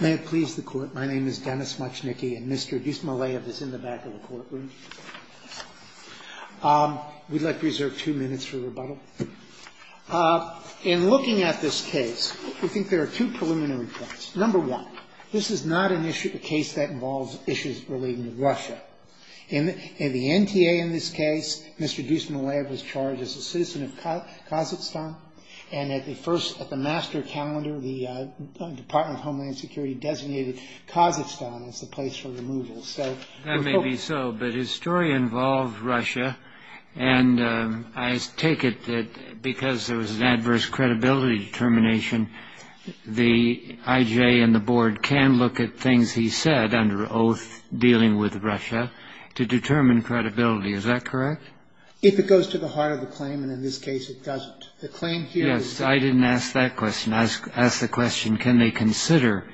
Mr. Dussemaliyev is in the back of the courtroom. We'd like to reserve two minutes for rebuttal. In looking at this case, we think there are two preliminary points. Number one, this is not a case that involves issues relating to Russia. In the NTA in this case, Mr. Dussemaliyev was charged as a citizen of Kazakhstan, and at the first, at the master calendar, the Department of Homeland Security designated Kazakhstan as the place for removal. That may be so, but his story involved Russia, and I take it that because there was an adverse credibility determination, the IJ and the board can look at things he said under oath dealing with Russia to determine credibility. Is that correct? If it goes to the heart of the claim, and in this case, it doesn't. The claim here is... Yes, I didn't ask that question. I asked the question, can they consider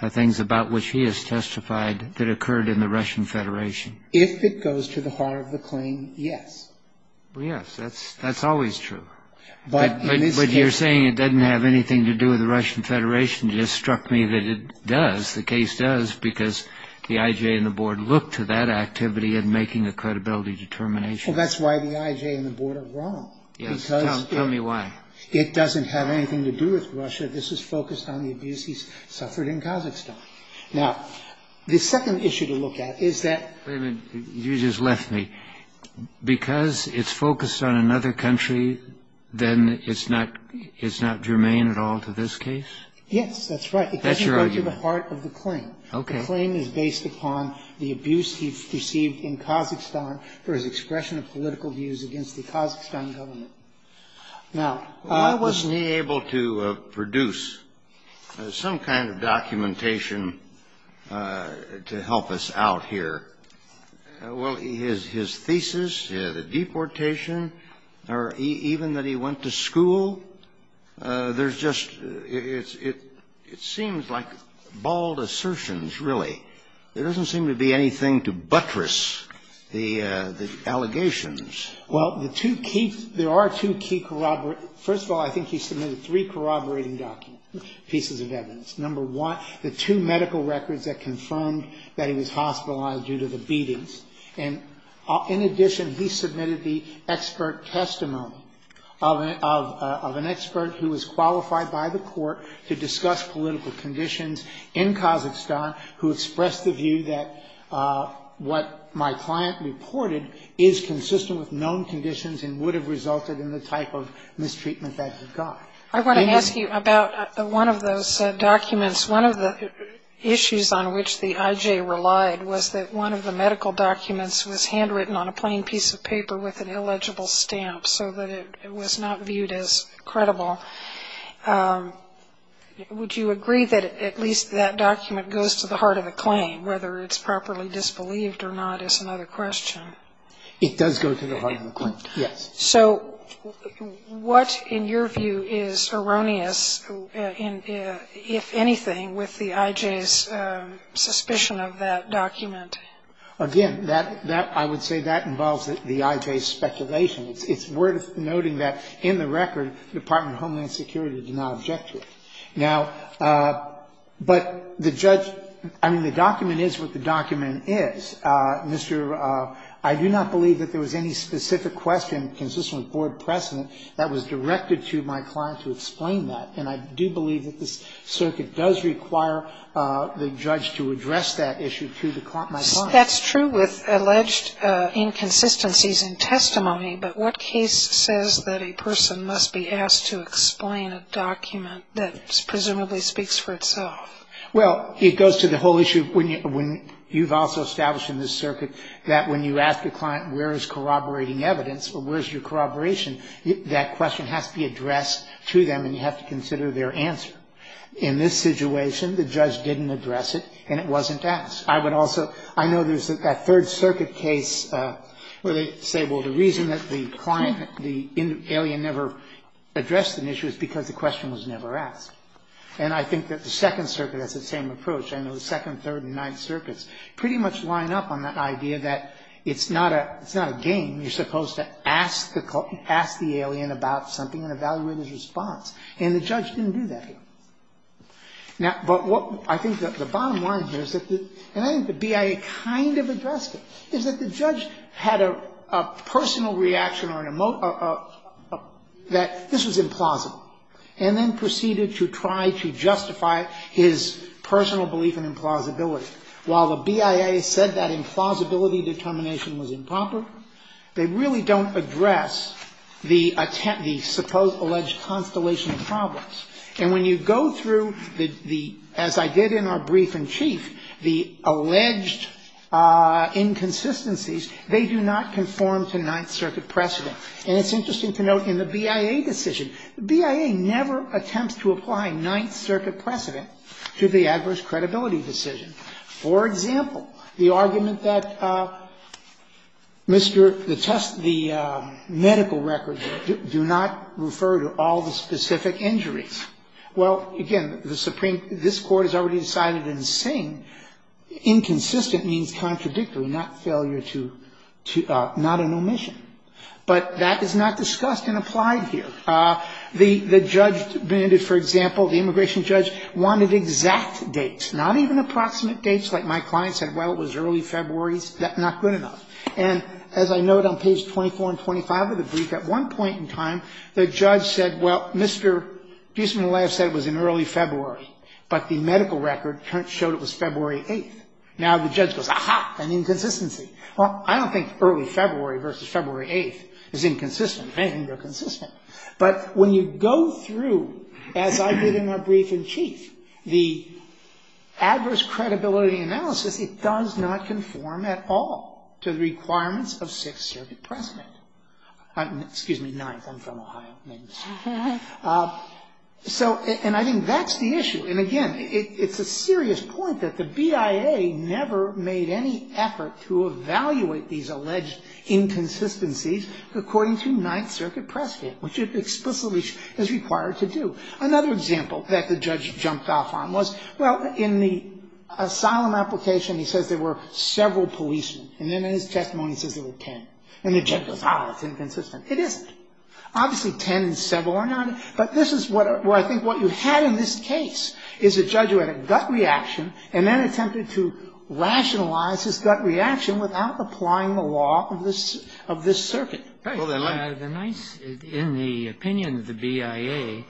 the things about which he has testified that occurred in the Russian Federation? If it goes to the heart of the claim, yes. Well, yes, that's always true. But in this case... But you're saying it doesn't have anything to do with the Russian Federation. It just struck me that it does. Yes, the case does, because the IJ and the board look to that activity in making a credibility determination. Well, that's why the IJ and the board are wrong. Yes. Tell me why. It doesn't have anything to do with Russia. This is focused on the abuse he's suffered in Kazakhstan. Now, the second issue to look at is that... Wait a minute. You just left me. Because it's focused on another country, then it's not germane at all to this case? Yes, that's right. That's your argument. It doesn't go to the heart of the claim. Okay. The claim is based upon the abuse he's received in Kazakhstan for his expression of political views against the Kazakhstan government. Now... Well, I wasn't able to produce some kind of documentation to help us out here. Well, his thesis, the deportation, or even that he went to school, there's just – it seems like bald assertions, really. There doesn't seem to be anything to buttress the allegations. Well, the two key – there are two key – first of all, I think he submitted three corroborating documents, pieces of evidence. Number one, the two medical records that confirmed that he was hospitalized due to the beatings. And in addition, he submitted the expert testimony of an expert who was qualified by the court to discuss political conditions in Kazakhstan who expressed the view that what my client reported is consistent with known conditions and would have resulted in the type of mistreatment that he got. I want to ask you about one of those documents. One of the issues on which the IJ relied was that one of the medical documents was handwritten on a plain piece of paper with an illegible stamp so that it was not viewed as credible. Would you agree that at least that document goes to the heart of the claim, whether it's properly disbelieved or not is another question? It does go to the heart of the claim, yes. So what, in your view, is erroneous, if anything, with the IJ's suspicion of that document? Again, that – I would say that involves the IJ's speculation. It's worth noting that in the record, the Department of Homeland Security did not object to it. Now, but the judge – I mean, the document is what the document is. I do not believe that there was any specific question consistent with board precedent that was directed to my client to explain that. And I do believe that this circuit does require the judge to address that issue to my client. That's true with alleged inconsistencies in testimony, but what case says that a person must be asked to explain a document that presumably speaks for itself? Well, it goes to the whole issue when you've also established in this circuit that when you ask a client where is corroborating evidence or where is your corroboration, that question has to be addressed to them, and you have to consider their answer. In this situation, the judge didn't address it, and it wasn't asked. I would also – I know there's that Third Circuit case where they say, well, the reason that the client, the alien never addressed an issue is because the question was never asked. And I think that the Second Circuit has the same approach. I know the Second, Third, and Ninth Circuits pretty much line up on the idea that it's not a game. You're supposed to ask the alien about something and evaluate his response. And the judge didn't do that here. Now, but what – I think the bottom line here is that the – and I think the BIA kind of addressed it, is that the judge had a personal reaction or an – that this was implausible and then proceeded to try to justify his personal belief in implausibility. While the BIA said that implausibility determination was improper, they really don't address the supposed alleged constellation of problems. And when you go through the – as I did in our brief in chief, the alleged inconsistencies, they do not conform to Ninth Circuit precedent. And it's interesting to note in the BIA decision, BIA never attempts to apply Ninth Circuit precedent to the adverse credibility decision. For example, the argument that Mr. – the test – the medical record do not refer to all the specific injuries. Well, again, the Supreme – this Court has already decided in Singh inconsistent means contradictory, not failure to – not an omission. But that is not discussed and applied here. The judge – for example, the immigration judge wanted exact dates, not even approximate dates, like my client said, well, it was early February. That's not good enough. And as I note on page 24 and 25 of the brief, at one point in time, the judge said, well, Mr. Giesemann-Leov said it was in early February, but the medical record showed it was February 8th. Now the judge goes, aha, an inconsistency. Well, I don't think early February versus February 8th is inconsistent. I think they're consistent. But when you go through, as I did in my brief in chief, the adverse credibility analysis, it does not conform at all to the requirements of Sixth Circuit precedent. Excuse me, Ninth. I'm from Ohio. So – and I think that's the issue. And again, it's a serious point that the BIA never made any effort to evaluate these alleged inconsistencies according to Ninth Circuit precedent, which it explicitly is required to do. Another example that the judge jumped off on was, well, in the asylum application, he says there were several policemen. And then in his testimony, he says there were ten. And the judge goes, ah, it's inconsistent. It isn't. Obviously, ten and several are not. But this is what I think what you had in this case is a judge who had a gut reaction and then attempted to rationalize his gut reaction without applying the law of this circuit. Kennedy. Well, the Ninth, in the opinion of the BIA,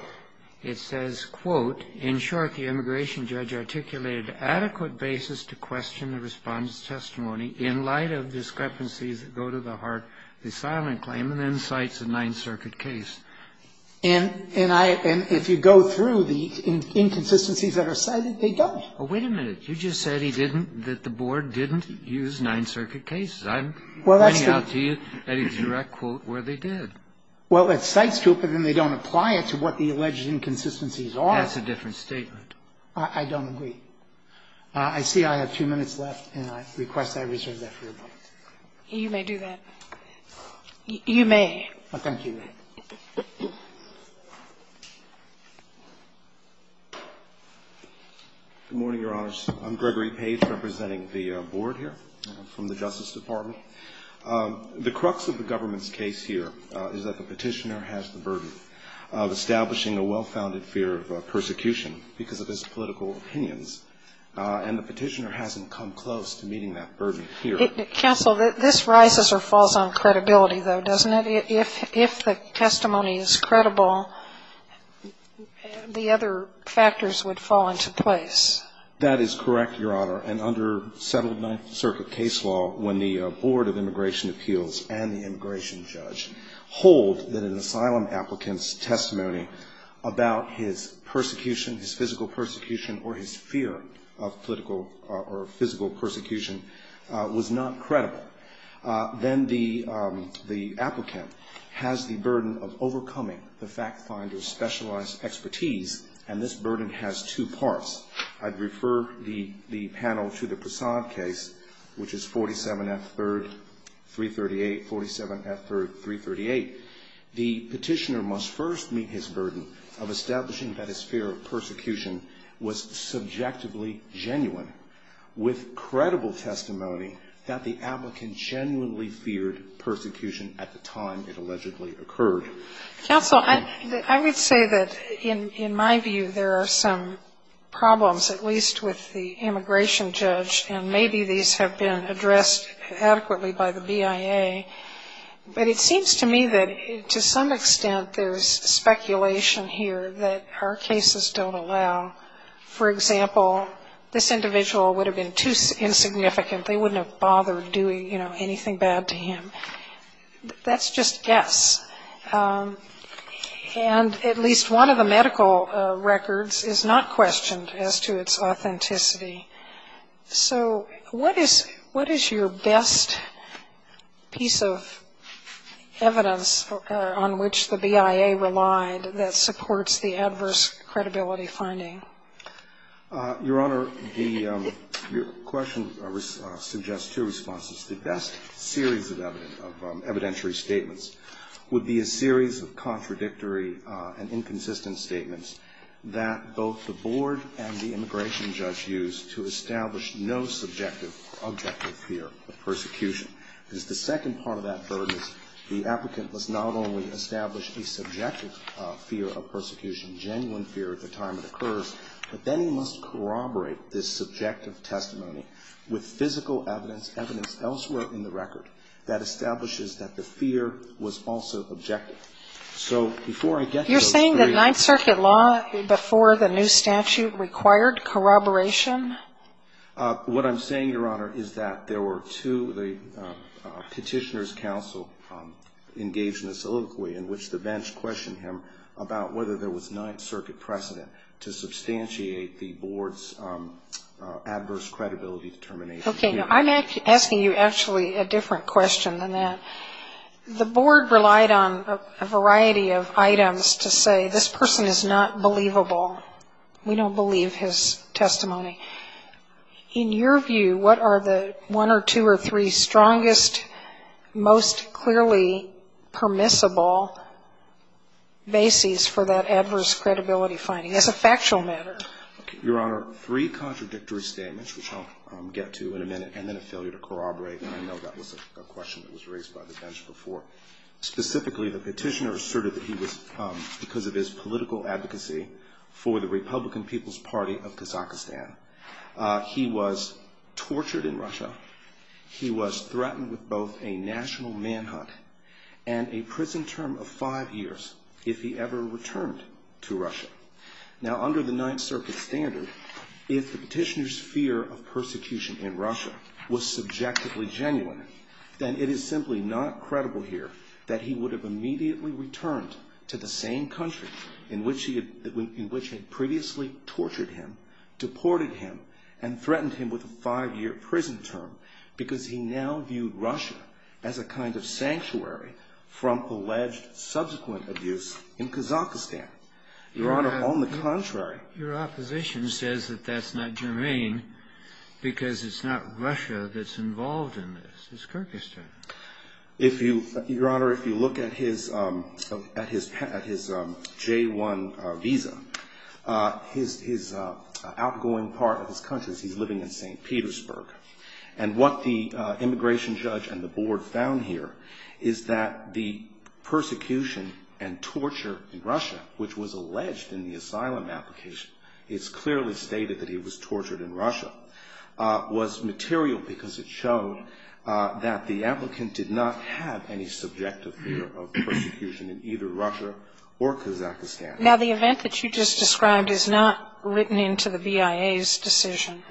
it says, quote, In short, the immigration judge articulated an adequate basis to question the Respondent's testimony in light of discrepancies that go to the heart of the asylum claim and then cites a Ninth Circuit case. And if you go through the inconsistencies that are cited, they don't. Oh, wait a minute. You just said he didn't, that the Board didn't use Ninth Circuit cases. I'm pointing out to you a direct quote where they did. Well, it cites two, but then they don't apply it to what the alleged inconsistencies are. That's a different statement. I don't agree. I see I have two minutes left, and I request I reserve that for a moment. You may do that. You may. Thank you. Good morning, Your Honors. I'm Gregory Page representing the Board here from the Justice Department. The crux of the government's case here is that the Petitioner has the burden of establishing a well-founded fear of persecution because of his political opinions, and the Petitioner hasn't come close to meeting that burden here. Counsel, this rises or falls on credibility, though, doesn't it? If the testimony is credible, the other factors would fall into place. That is correct, Your Honor. And under settled Ninth Circuit case law, when the Board of Immigration Appeals and the immigration judge hold that an asylum applicant's testimony about his persecution, his physical persecution, or his fear of political or physical persecution was not credible, then the applicant has the burden of overcoming the fact finder's specialized expertise, and this burden has two parts. I'd refer the panel to the Prasad case, which is 47F, 3rd, 338, 47F, 3rd, 338. The Petitioner must first meet his burden of establishing that his fear of persecution was subjectively genuine, with credible testimony that the applicant genuinely feared persecution at the time it allegedly occurred. Counsel, I would say that in my view there are some problems, at least with the immigration judge, and maybe these have been addressed adequately by the BIA. But it seems to me that to some extent there's speculation here that our cases don't allow. For example, this individual would have been too insignificant. They wouldn't have bothered doing, you know, anything bad to him. That's just guess. And at least one of the medical records is not questioned as to its authenticity. So what is your best piece of evidence on which the BIA relied that supports the adverse credibility finding? Your Honor, the question suggests two responses. The best series of evidentiary statements would be a series of contradictory and inconsistent statements that both the board and the immigration judge used to establish no subjective or objective fear of persecution. Because the second part of that burden is the applicant must not only establish a subjective fear of persecution, genuine fear at the time it occurs, but then he must corroborate this subjective testimony with physical evidence, evidence elsewhere in the record, that establishes that the fear was also objective. So before I get to those three. You're saying that Ninth Circuit law before the new statute required corroboration? What I'm saying, Your Honor, is that there were two. The petitioner's counsel engaged in a soliloquy in which the bench questioned him about whether there was Ninth Circuit precedent to substantiate the board's adverse credibility determination. Okay. Now, I'm asking you actually a different question than that. The board relied on a variety of items to say this person is not believable. We don't believe his testimony. In your view, what are the one or two or three strongest, most clearly permissible bases for that adverse credibility finding as a factual matter? Your Honor, three contradictory statements, which I'll get to in a minute, and then a failure to corroborate, and I know that was a question that was raised by the bench before. Specifically, the petitioner asserted that he was, because of his political advocacy for the Republican People's Party of Kazakhstan, he was tortured in Russia. He was threatened with both a national manhunt and a prison term of five years if he ever returned to Russia. Now, under the Ninth Circuit standard, if the petitioner's fear of persecution in Russia was subjectively genuine, then it is simply not credible here that he would have immediately returned to the same country in which he had previously tortured him, deported him, and threatened him with a five-year prison term because he now viewed Russia as a kind of sanctuary from alleged subsequent abuse in Kazakhstan. Your Honor, on the contrary. Your opposition says that that's not germane because it's not Russia that's involved in this. It's Kyrgyzstan. Your Honor, if you look at his J-1 visa, his outgoing part of his country is he's living in St. Petersburg. And what the immigration judge and the board found here is that the persecution and torture in Russia, which was alleged in the asylum application, it's clearly stated that he was tortured in Russia, was material because it showed that the applicant did not have any subjective fear of persecution in either Russia or Kazakhstan. Now, the event that you just described is not written into the VIA's decision.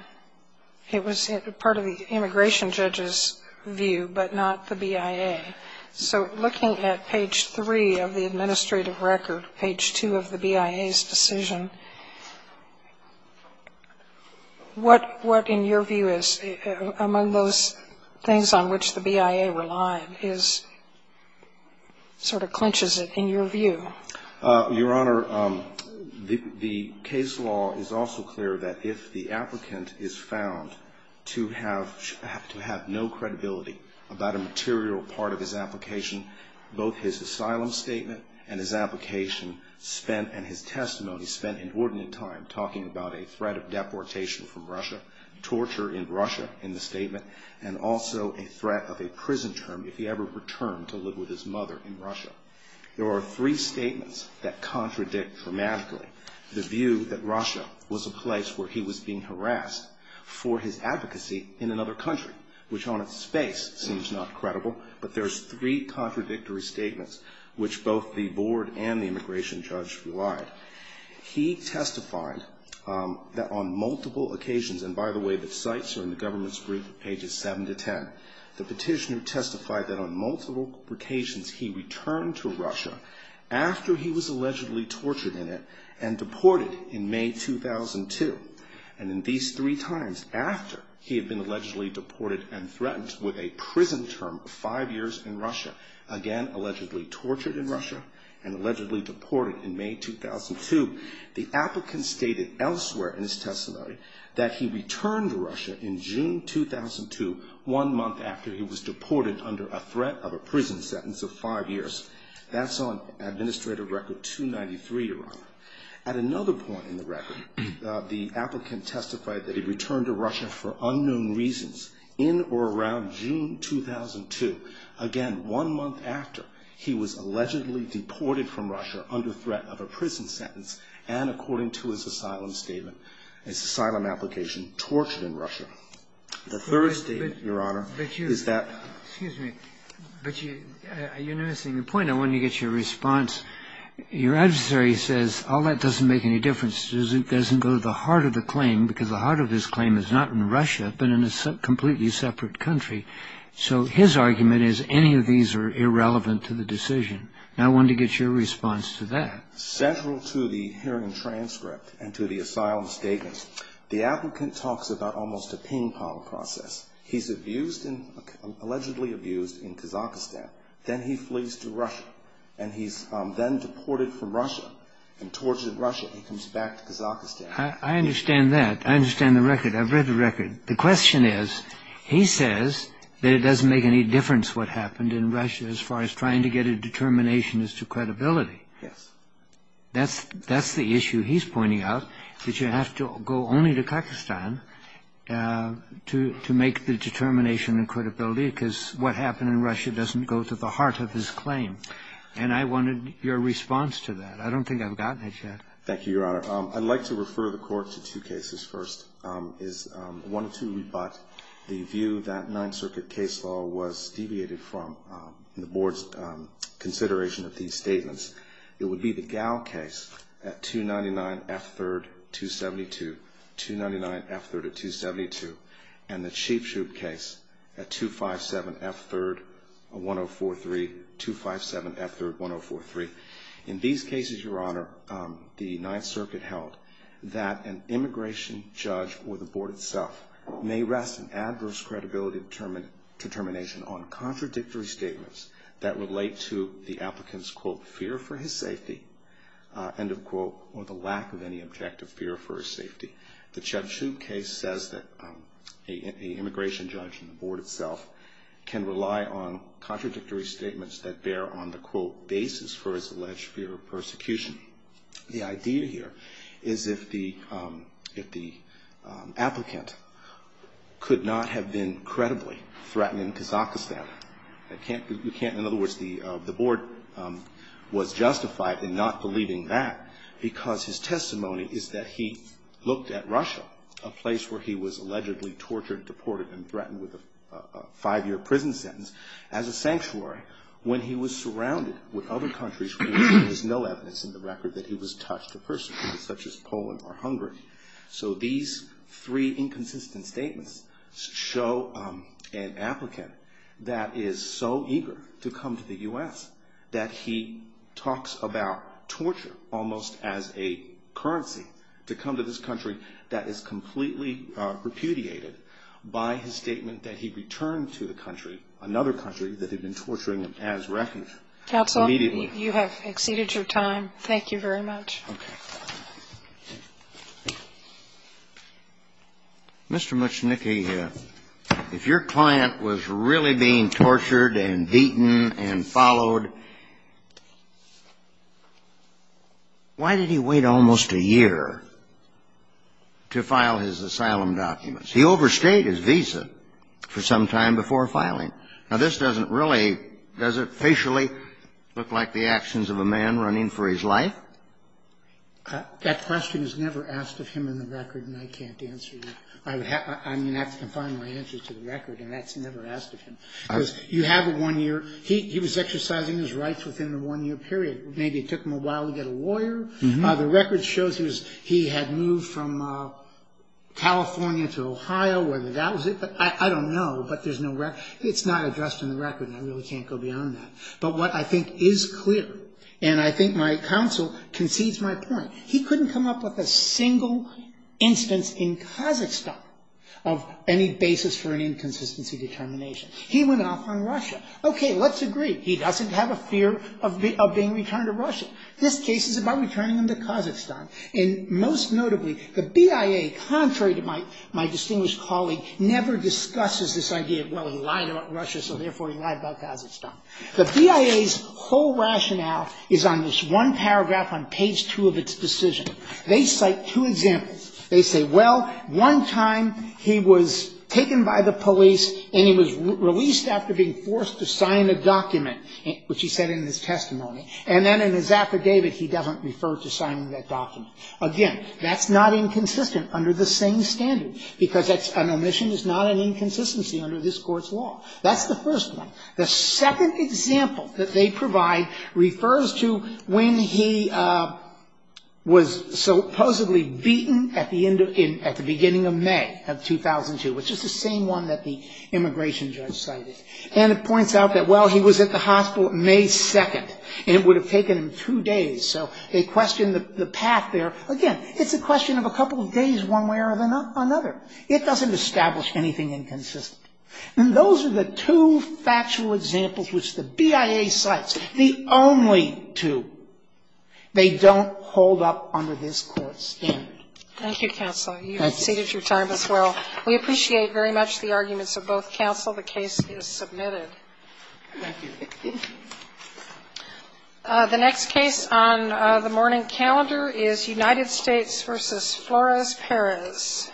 It was part of the immigration judge's view, but not the BIA. So looking at page 3 of the administrative record, page 2 of the BIA's decision, what in your view is among those things on which the BIA relied is sort of clinches it in your view? Your Honor, the case law is also clear that if the applicant is found to have no credibility about a material part of his application, both his asylum statement and his application and his testimony spent inordinate time talking about a threat of deportation from Russia, torture in Russia in the statement, and also a threat of a prison term if he ever returned to live with his mother in Russia. There are three statements that contradict dramatically the view that Russia was a place where he was being harassed for his advocacy in another country, which on its face seems not credible, but there's three contradictory statements which both the board and the immigration judge relied. He testified that on multiple occasions, and by the way, the sites are in the government's brief at pages 7 to 10, the petitioner testified that on multiple occasions he returned to Russia after he was allegedly tortured in it and deported in May 2002. And in these three times after he had been allegedly deported and threatened with a prison term of five years in Russia, again allegedly tortured in Russia and allegedly deported in May 2002, the applicant stated elsewhere in his testimony that he returned to Russia in June 2002, one month after he was deported under a threat of a prison sentence of five years. That's on Administrative Record 293, Your Honor. At another point in the record, the applicant testified that he returned to Russia for unknown reasons in or around June 2002, again one month after he was allegedly deported from Russia under threat of a prison sentence and according to his asylum statement, his asylum application, tortured in Russia. The third statement, Your Honor, is that... Excuse me, but you're missing the point. I want to get your response. Your adversary says all that doesn't make any difference. It doesn't go to the heart of the claim because the heart of his claim is not in Russia, but in a completely separate country. So his argument is any of these are irrelevant to the decision. And I wanted to get your response to that. Central to the hearing transcript and to the asylum statement, the applicant talks about almost a ping-pong process. He's abused, allegedly abused in Kazakhstan. Then he flees to Russia and he's then deported from Russia and tortured in Russia. He comes back to Kazakhstan. I understand that. I understand the record. I've read the record. The question is, he says that it doesn't make any difference what happened in Russia as far as trying to get a determination as to credibility. Yes. That's the issue he's pointing out, that you have to go only to Kazakhstan to make the determination and credibility because what happened in Russia doesn't go to the heart of his claim. And I wanted your response to that. I don't think I've gotten it yet. Thank you, Your Honor. I'd like to refer the Court to two cases first. I wanted to rebut the view that Ninth Circuit case law was deviated from in the Board's consideration of these statements. It would be the Gow case at 299 F3rd 272, 299 F3rd 272, and the Cheapshoot case at 257 F3rd 1043, 257 F3rd 1043. In these cases, Your Honor, the Ninth Circuit held that an immigration judge or the Board itself may rest an adverse credibility determination on contradictory statements that relate to the applicant's, quote, fear for his safety, end of quote, or the lack of any objective fear for his safety. The Cheapshoot case says that an immigration judge and the Board itself can rely on contradictory statements that bear on the, quote, basis for his alleged fear of persecution. The idea here is if the applicant could not have been credibly threatened in Kazakhstan, you can't, in other words, the Board was justified in not believing that because his testimony is that he looked at Russia, a place where he was allegedly tortured, deported, and threatened with a five-year prison sentence as a sanctuary when he was surrounded with other countries where there is no evidence in the record that he was touched or persecuted, such as Poland or Hungary. So these three inconsistent statements show an applicant that is so eager to come to the U.S. that he talks about torture almost as a currency to come to this country that is completely repudiated by his statement that he returned to the country, another country that had been torturing him as a wreckage immediately. Counsel, you have exceeded your time. Thank you very much. Okay. Mr. Muchnicki, if your client was really being tortured and beaten and followed, why did he wait almost a year to file his asylum documents? He overstayed his visa for some time before filing. Now, this doesn't really, does it facially look like the actions of a man running for his life? That question is never asked of him in the record, and I can't answer you. I'm going to have to confine my answers to the record, and that's never asked of him. Because you have a one-year. He was exercising his rights within the one-year period. Maybe it took him a while to get a lawyer. The record shows he had moved from California to Ohio, whether that was it. I don't know, but there's no record. It's not addressed in the record, and I really can't go beyond that. But what I think is clear, and I think my counsel concedes my point, he couldn't come up with a single instance in Kazakhstan of any basis for an inconsistency determination. He went off on Russia. Okay, let's agree. He doesn't have a fear of being returned to Russia. This case is about returning him to Kazakhstan. And most notably, the BIA, contrary to my distinguished colleague, never discusses this idea, well, he lied about Russia, so therefore he lied about Kazakhstan. The BIA's whole rationale is on this one paragraph on page 2 of its decision. They cite two examples. They say, well, one time he was taken by the police and he was released after being forced to sign a document, which he said in his testimony. And then in his affidavit, he doesn't refer to signing that document. Again, that's not inconsistent under the same standard, because an omission is not an inconsistency under this Court's law. That's the first one. The second example that they provide refers to when he was supposedly beaten at the beginning of May of 2002, which is the same one that the immigration judge cited. And it points out that, well, he was at the hospital May 2nd, and it would have taken him two days. So they question the path there. Again, it's a question of a couple of days one way or another. It doesn't establish anything inconsistent. And those are the two factual examples which the BIA cites, the only two. They don't hold up under this Court's standard. Thank you, counsel. You've exceeded your time as well. We appreciate very much the arguments of both counsel. The case is submitted. Thank you. The next case on the morning calendar is United States v. Flores Perez.